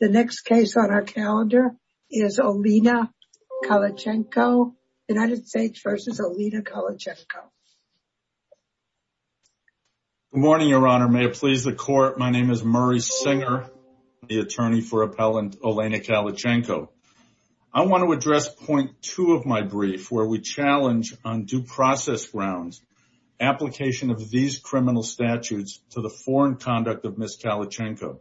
The next case on our calendar is Olena Kalichenko, United States v. Olena Kalichenko. Good morning, Your Honor. May it please the Court, my name is Murray Singer, the attorney for Appellant Olena Kalichenko. I want to address point two of my brief, where we challenge on due process grounds, application of these criminal statutes to the foreign conduct of Justice Kalichenko.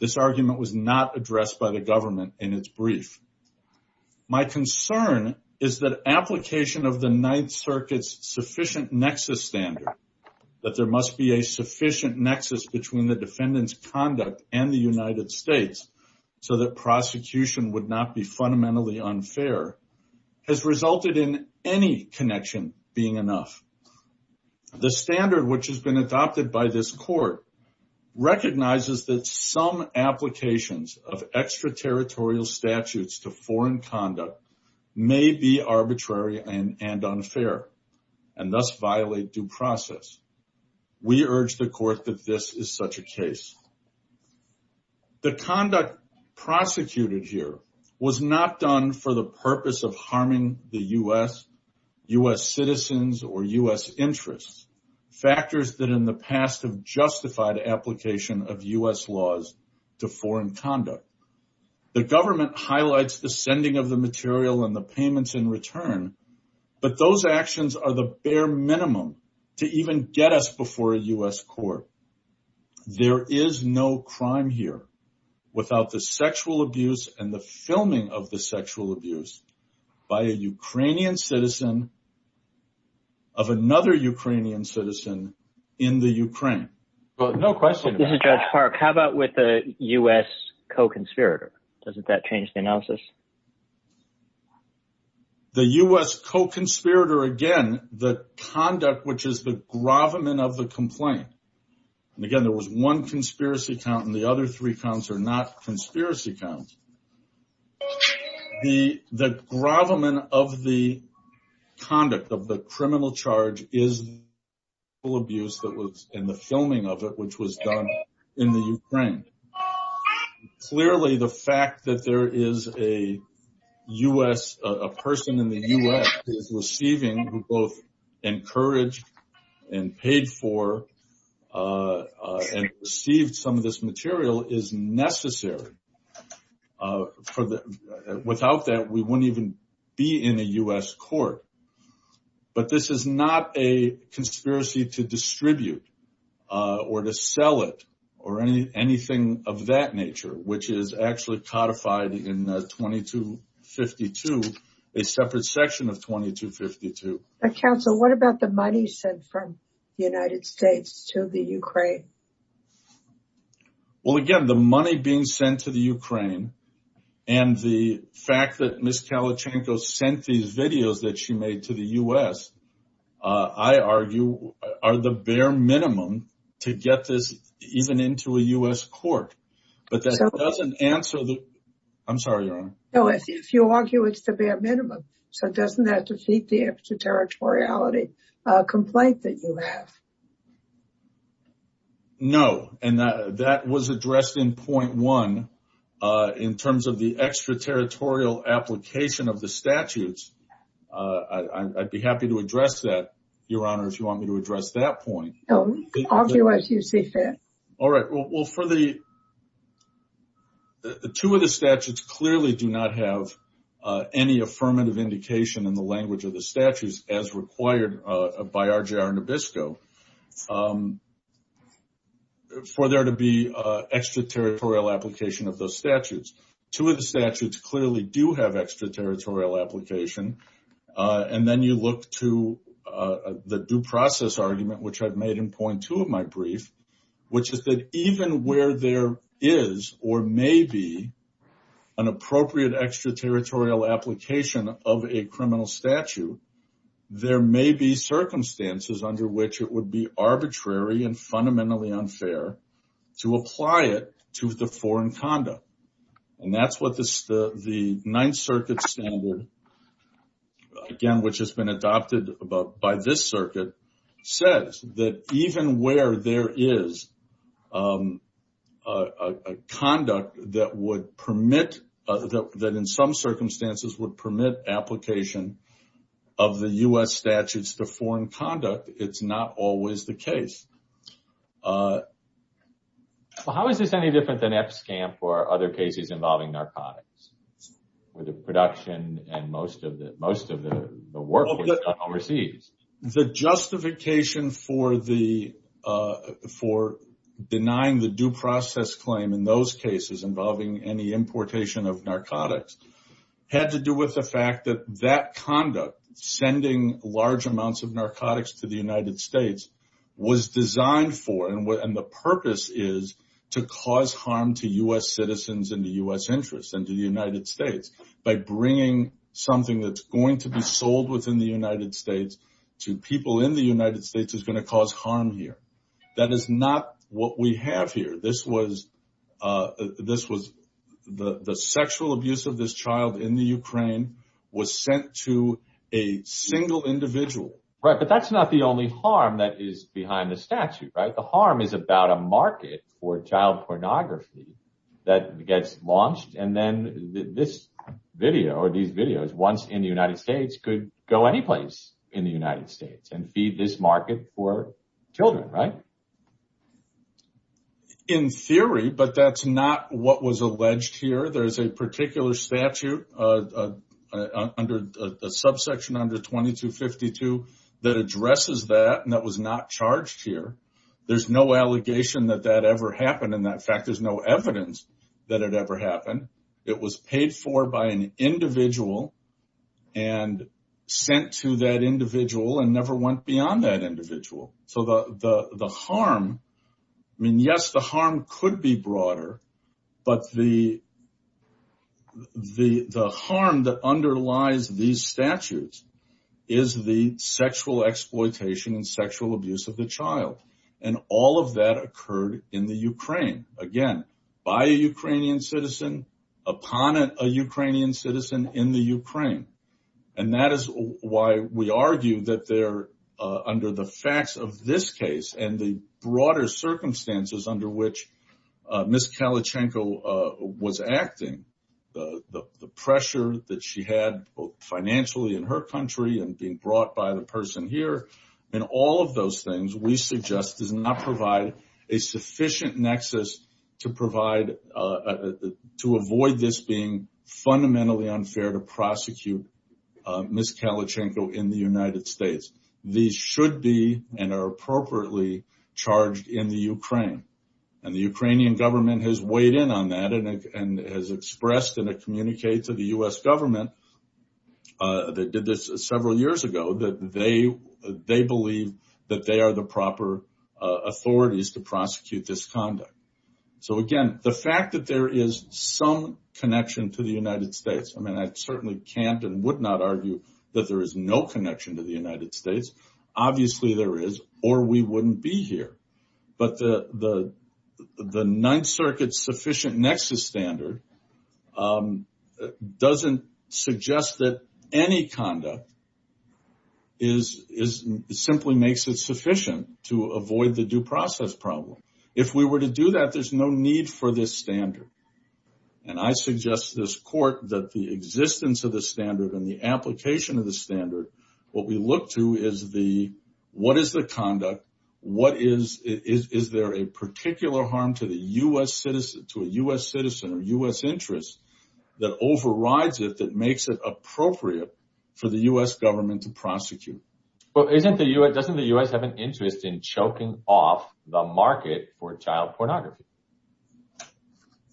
This argument was not addressed by the government in its brief. My concern is that application of the Ninth Circuit's sufficient nexus standard, that there must be a sufficient nexus between the defendant's conduct and the United States so that prosecution would not be fundamentally unfair, has resulted in any connection being enough. The standard which has been adopted by this Court recognizes that some applications of extraterritorial statutes to foreign conduct may be arbitrary and unfair, and thus violate due process. We urge the Court that this is such a case. The conduct prosecuted here was not done for the purpose of harming the U.S., U.S. citizens, or U.S. interests, factors that in the past have justified application of U.S. laws to foreign conduct. The government highlights the sending of the material and the payments in return, but those actions are the bare minimum to even get us before a U.S. court. There is no crime here without the sexual abuse and the filming of the sexual abuse by a Ukrainian citizen of another Ukrainian citizen in the Ukraine. No question about it. This is Judge Park. How about with the U.S. co-conspirator? Doesn't that change the analysis? The U.S. co-conspirator, again, the conduct which is the gravamen of the complaint, and conspiracy counts, the gravamen of the conduct of the criminal charge is the sexual abuse that was in the filming of it, which was done in the Ukraine. Clearly, the fact that there is a U.S., a person in the U.S. is receiving, who both encouraged and paid for and received some of this material is necessary. Without that, we wouldn't even be in a U.S. court. But this is not a conspiracy to distribute or to sell it or anything of that nature, which is actually codified in 2252, a separate section of 2252. Counsel, what about the money sent from the United States to the Ukraine? Well, again, the money being sent to the Ukraine and the fact that Ms. Kalachanko sent these videos that she made to the U.S., I argue, are the bare minimum to get this even into a U.S. court. But that doesn't answer the... I'm sorry, Your Honor. No, if you argue it's the bare minimum, so doesn't that defeat the extraterritoriality complaint that you have? No, and that was addressed in point one in terms of the extraterritorial application of the statutes. I'd be happy to address that, Your Honor, if you want me to address that point. No, argue as you see fit. All right, well, for the two of the statutes clearly do not have any affirmative indication in the language of the statutes as required by RJR Nabisco for there to be extraterritorial application of those statutes. Two of the statutes clearly do have extraterritorial application. And then you look to the due process argument, which I've made in point two of my brief, which is that even where there is or may be an appropriate extraterritorial application of a criminal statute, there may be circumstances under which it would be arbitrary and fundamentally unfair to apply it to the foreign conduct. And that's what the Ninth Circuit standard, again, which has been adopted by this circuit, says that even where there is a conduct that would permit, that in some circumstances would permit application of the U.S. statutes to foreign conduct, it's not always the case. Well, how is this any different than EPSCAMP or other cases involving narcotics with the production and most of the work done overseas? The justification for denying the due process claim in those cases involving any importation of narcotics had to do with the fact that that conduct, sending large amounts of narcotics to the United States, was designed for and the purpose is to cause harm to U.S. citizens and the U.S. interests and to the United States by bringing something that's going to be sold within the United States to people in the United States is going to cause harm here. That is not what we have here. This was the sexual abuse of this child in the Ukraine was sent to a single individual. Right, but that's not the only harm that is behind the statute, right? The harm is about a market for child pornography that gets launched and then this video or these videos, once in the United States, are going to take place in the United States and feed this market for children, right? In theory, but that's not what was alleged here. There's a particular statute under the subsection under 2252 that addresses that and that was not charged here. There's no allegation that that ever happened. In fact, there's no evidence that it ever happened. It was to that individual and never went beyond that individual. So the harm, I mean, yes, the harm could be broader, but the harm that underlies these statutes is the sexual exploitation and sexual abuse of the child and all of that occurred in the Ukraine. Again, by a Ukrainian citizen, upon a Ukrainian citizen in the Ukraine, and that is why we argue that they're under the facts of this case and the broader circumstances under which Miss Kalachenko was acting, the pressure that she had both financially in her country and being brought by the person here and all of those things we suggest does not provide a sufficient nexus to provide, to avoid this being fundamentally unfair to prosecute Miss Kalachenko in the United States. These should be and are appropriately charged in the Ukraine and the Ukrainian government has weighed in on that and has expressed in a communique to the U.S. government that did this several years ago that they believe that they are the proper authorities to prosecute this conduct. So again, the fact that there is some connection to the United States, I mean, I certainly can't and would not argue that there is no connection to the United States, obviously there is or we wouldn't be here, but the Ninth Circuit's sufficient nexus standard doesn't suggest that any conduct simply makes it sufficient to avoid the due process problem. If we were to do that, there's no need for this standard and I suggest to this court that the existence of the standard and the application of the standard, what we look to is the, what is the conduct, what is, is there a particular harm to the U.S. citizen, to a U.S. citizen or U.S. interest that overrides it, that makes it appropriate for the U.S. government to prosecute. Well, pornography.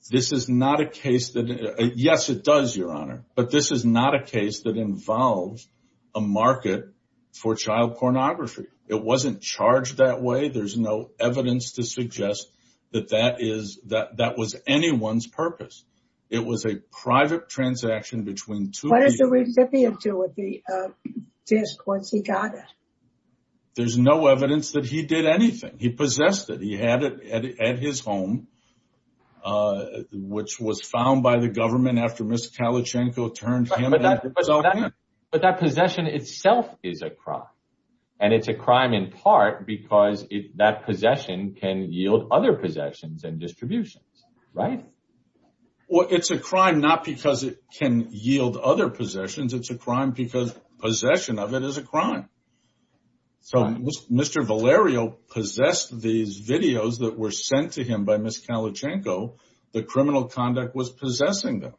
This is not a case that, yes, it does, Your Honor, but this is not a case that involves a market for child pornography. It wasn't charged that way. There's no evidence to suggest that that is, that that was anyone's purpose. It was a private transaction between two people. What does the recipient do with the disc once he got it? There's no evidence that he did anything. He possessed it. He had it at his home, which was found by the government after Mr. Kalashenko turned him in. But that possession itself is a crime and it's a crime in part because that possession can yield other possessions and distributions, right? Well, it's a crime not because it can yield other possessions. It's a crime because possession of it is a crime. So Mr. Valerio possessed these videos that were sent to him by Ms. Kalashenko. The criminal conduct was possessing them.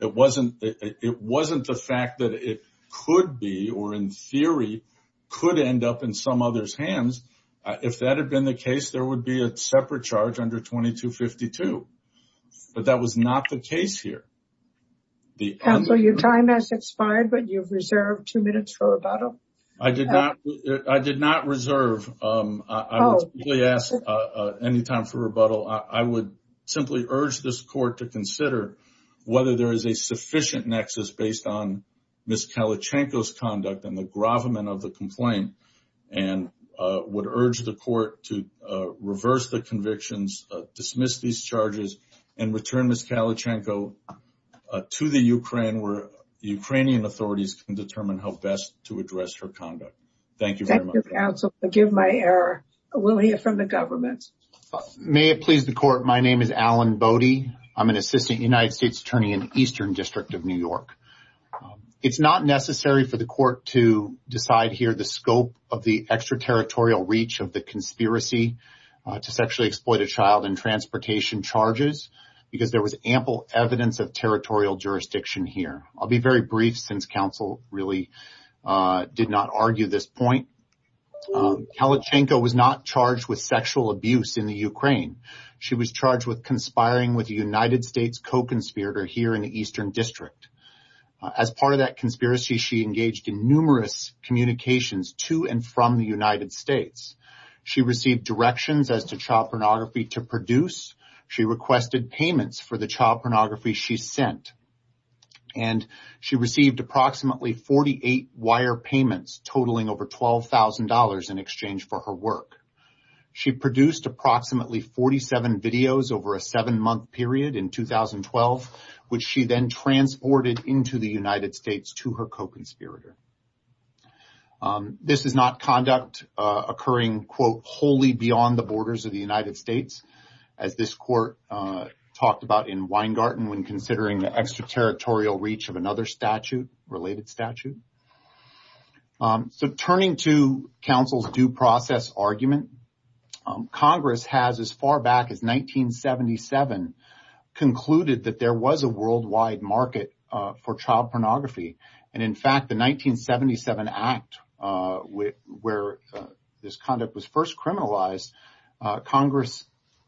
It wasn't the fact that it could be or in theory could end up in some other's hands. If that had been the case, there would be a separate charge under 2252. But that was not the case here. Counsel, your time has expired, but you've reserved two minutes for rebuttal. I did not. I did not reserve any time for rebuttal. I would simply urge this court to consider whether there is a sufficient nexus based on Ms. Kalashenko's conduct and the gravamen of the complaint and would urge the court to reverse the convictions, dismiss these charges, and return Ms. Kalashenko to the Ukraine where the Ukrainian authorities can determine how best to address her conduct. Thank you very much. Thank you, counsel. Forgive my error. We'll hear from the government. May it please the court. My name is Alan Bodie. I'm an assistant United States attorney in the Eastern District of New York. It's not necessary for the court to decide here the scope of the extraterritorial reach of the conspiracy to sexually exploit a child in transportation charges because there was ample evidence of territorial jurisdiction here. I'll be very brief since counsel really did not argue this point. Kalashenko was not charged with sexual abuse in the Ukraine. She was charged with conspiring with a United States co-conspirator here in the Eastern District. As part of that conspiracy, she engaged in numerous communications to and from the United States. She received directions as to child pornography to produce. She requested payments for the child pornography she sent. She received approximately 48 wire payments totaling over $12,000 in exchange for her work. She produced approximately 47 videos over a seven-month period in 2012, which she then transported into the United States to her co-conspirator. This is not conduct occurring, quote, wholly beyond the borders of the United States, as this court talked about in Weingarten when considering the extraterritorial reach of another statute, a related statute. Turning to counsel's due process argument, Congress has, as far back as 1977, concluded that there was a worldwide market for child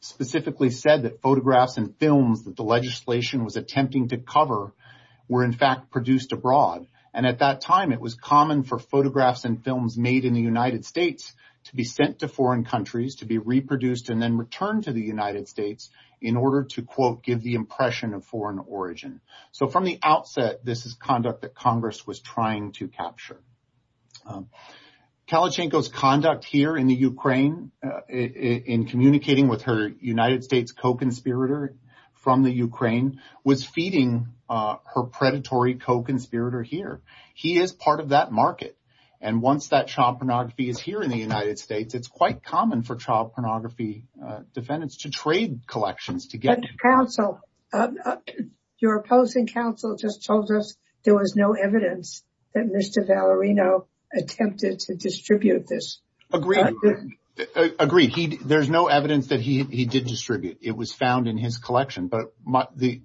specifically said that photographs and films that the legislation was attempting to cover were, in fact, produced abroad. At that time, it was common for photographs and films made in the United States to be sent to foreign countries, to be reproduced, and then returned to the United States in order to, quote, give the impression of foreign origin. From the outset, this is conduct that Congress was trying to capture. Kalashenko's conduct here in the Ukraine in communicating with her United States co-conspirator from the Ukraine was feeding her predatory co-conspirator here. He is part of that market, and once that child pornography is here in the United States, it's quite common for child pornography defendants to trade collections to get counsel. Your opposing counsel just told us there was no evidence that Mr. Valerino attempted to distribute this. I agree. There's no evidence that he did distribute. It was found in his collection, but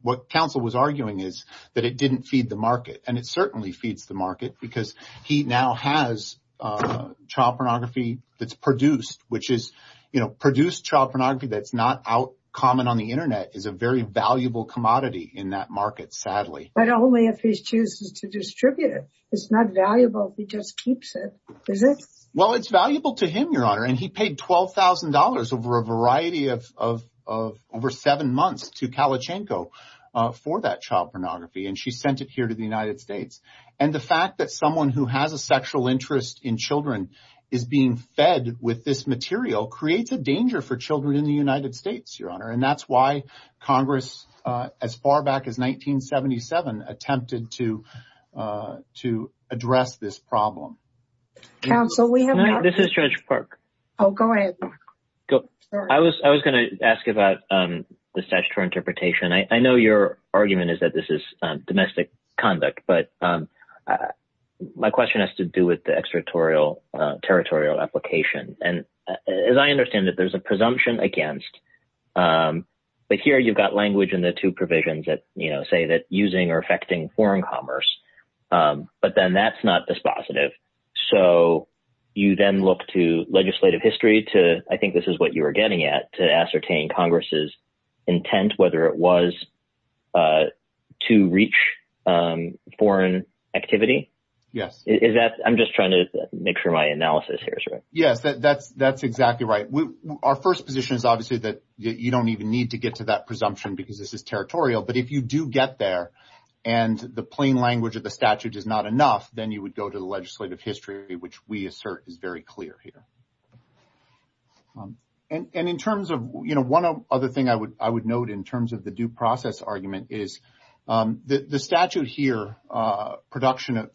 what counsel was arguing is that it didn't feed the market, and it certainly feeds the market because he now has child pornography that's produced, which is, you know, produced child pornography that's not out common on the internet is a very valuable commodity in that market, sadly. But only if he chooses to distribute it. It's not valuable if he just keeps it. Is it? Well, it's valuable to him, Your Honor, and he paid $12,000 over a variety of over seven months to Kalashenko for that child pornography, and she sent it here to the United States, and the fact that someone who has a sexual interest in children is being fed with this material creates a danger for children in the United States, Your Honor, and that's why Congress as far back as 1977 attempted to address this problem. Counsel, we have... This is Judge Park. Oh, go ahead. I was going to ask about the statutory interpretation. I know your argument is that this is domestic conduct, but my question has to do with the extraterritorial application, and as I understand it, there's a presumption against, but here you've got the language and the two provisions that say that using or affecting foreign commerce, but then that's not dispositive. So you then look to legislative history to... I think this is what you were getting at, to ascertain Congress's intent, whether it was to reach foreign activity? Yes. Is that... I'm just trying to make sure my analysis here is right. Yes, that's exactly right. Our first position is obviously that you don't even need to get to that presumption because this is territorial, but if you do get there and the plain language of the statute is not enough, then you would go to the legislative history, which we assert is very clear here. And in terms of... One other thing I would note in terms of the due process argument is the statute here, production of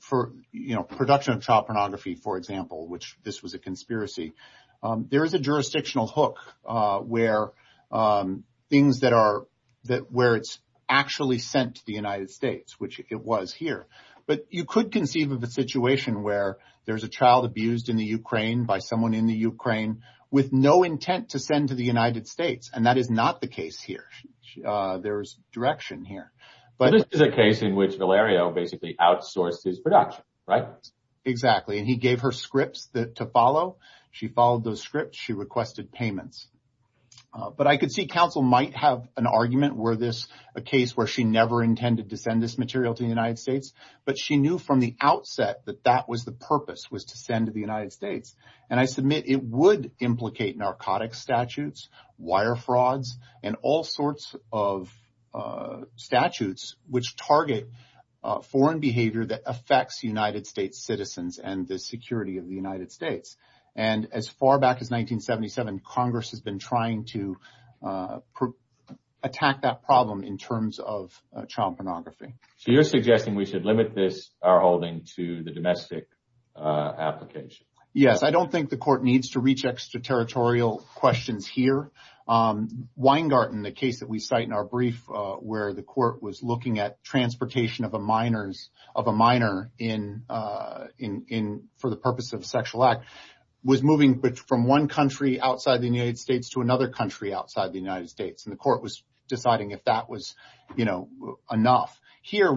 child pornography, for example, which this was a conspiracy, there is a jurisdictional hook where things that are... Where it's actually sent to the United States, which it was here, but you could conceive of a situation where there's a child abused in the Ukraine by someone in the Ukraine with no intent to send to the United States, and that is not the case here. There's direction here, but... This is a case in which Valerio basically outsourced his production, right? Exactly. And he gave her scripts to follow. She followed those scripts. She requested payments. But I could see counsel might have an argument where this... A case where she never intended to send this material to the United States, but she knew from the outset that that was the purpose, was to send to the United States. And I submit it would implicate narcotics statutes, wire frauds, and all sorts of statutes which target foreign behavior that affects United States citizens and the security of the United States. And as far back as 1977, Congress has been trying to attack that problem in terms of child pornography. So you're suggesting we should limit this, our holding, to the domestic application? Yes. I don't think the court needs to reach extraterritorial questions here. Weingarten, the case that we cite in our brief, where the court was looking at transportation of a minor for the purpose of a sexual act, was moving from one country outside the United States to another country outside the United States. And the court was deciding if that was enough. Here,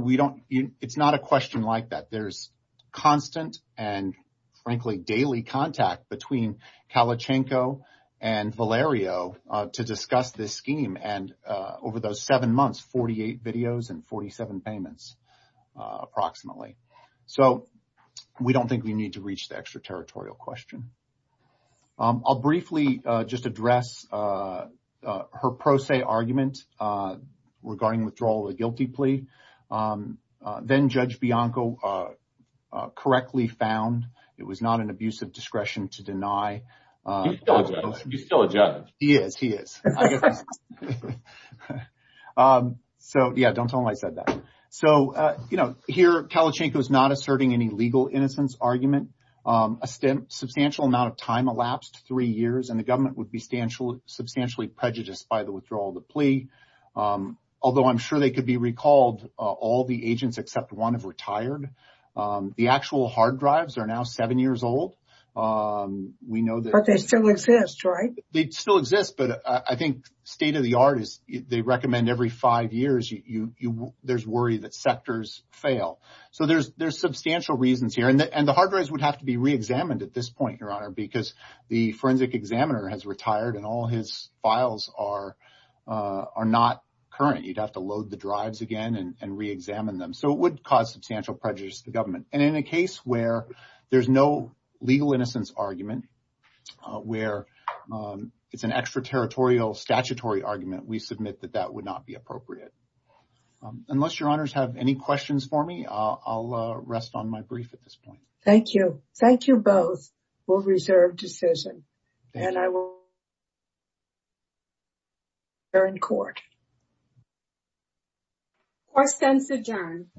it's not a question like that. There's constant and, frankly, daily contact between Kalachenko and Valerio to discuss this 48 videos and 47 payments, approximately. So we don't think we need to reach the extraterritorial question. I'll briefly just address her pro se argument regarding withdrawal of the guilty plea. Then Judge Bianco correctly found it was not an abusive discretion to deny. He's still a judge. He is. He is. So, yeah, don't tell him I said that. So, you know, here Kalachenko is not asserting any legal innocence argument. A substantial amount of time elapsed, three years, and the government would be substantially prejudiced by the withdrawal of the plea. Although I'm sure they could be recalled, all the agents except one have retired. The actual hard drives are now seven years old. But they still exist, right? They still exist. But I think state of the art is they recommend every five years there's worry that sectors fail. So there's substantial reasons here. And the hard drives would have to be reexamined at this point, Your Honor, because the forensic examiner has retired and all his files are not current. You'd have to load the drives again and reexamine them. So it would cause substantial prejudice to the government. And in a case where there's no legal innocence argument, where it's an extraterritorial statutory argument, we submit that that would not be appropriate. Unless Your Honors have any questions for me, I'll rest on my brief at this point. Thank you. Thank you both. We'll reserve decision. And I will. They're in court. Thank you. Court is adjourned.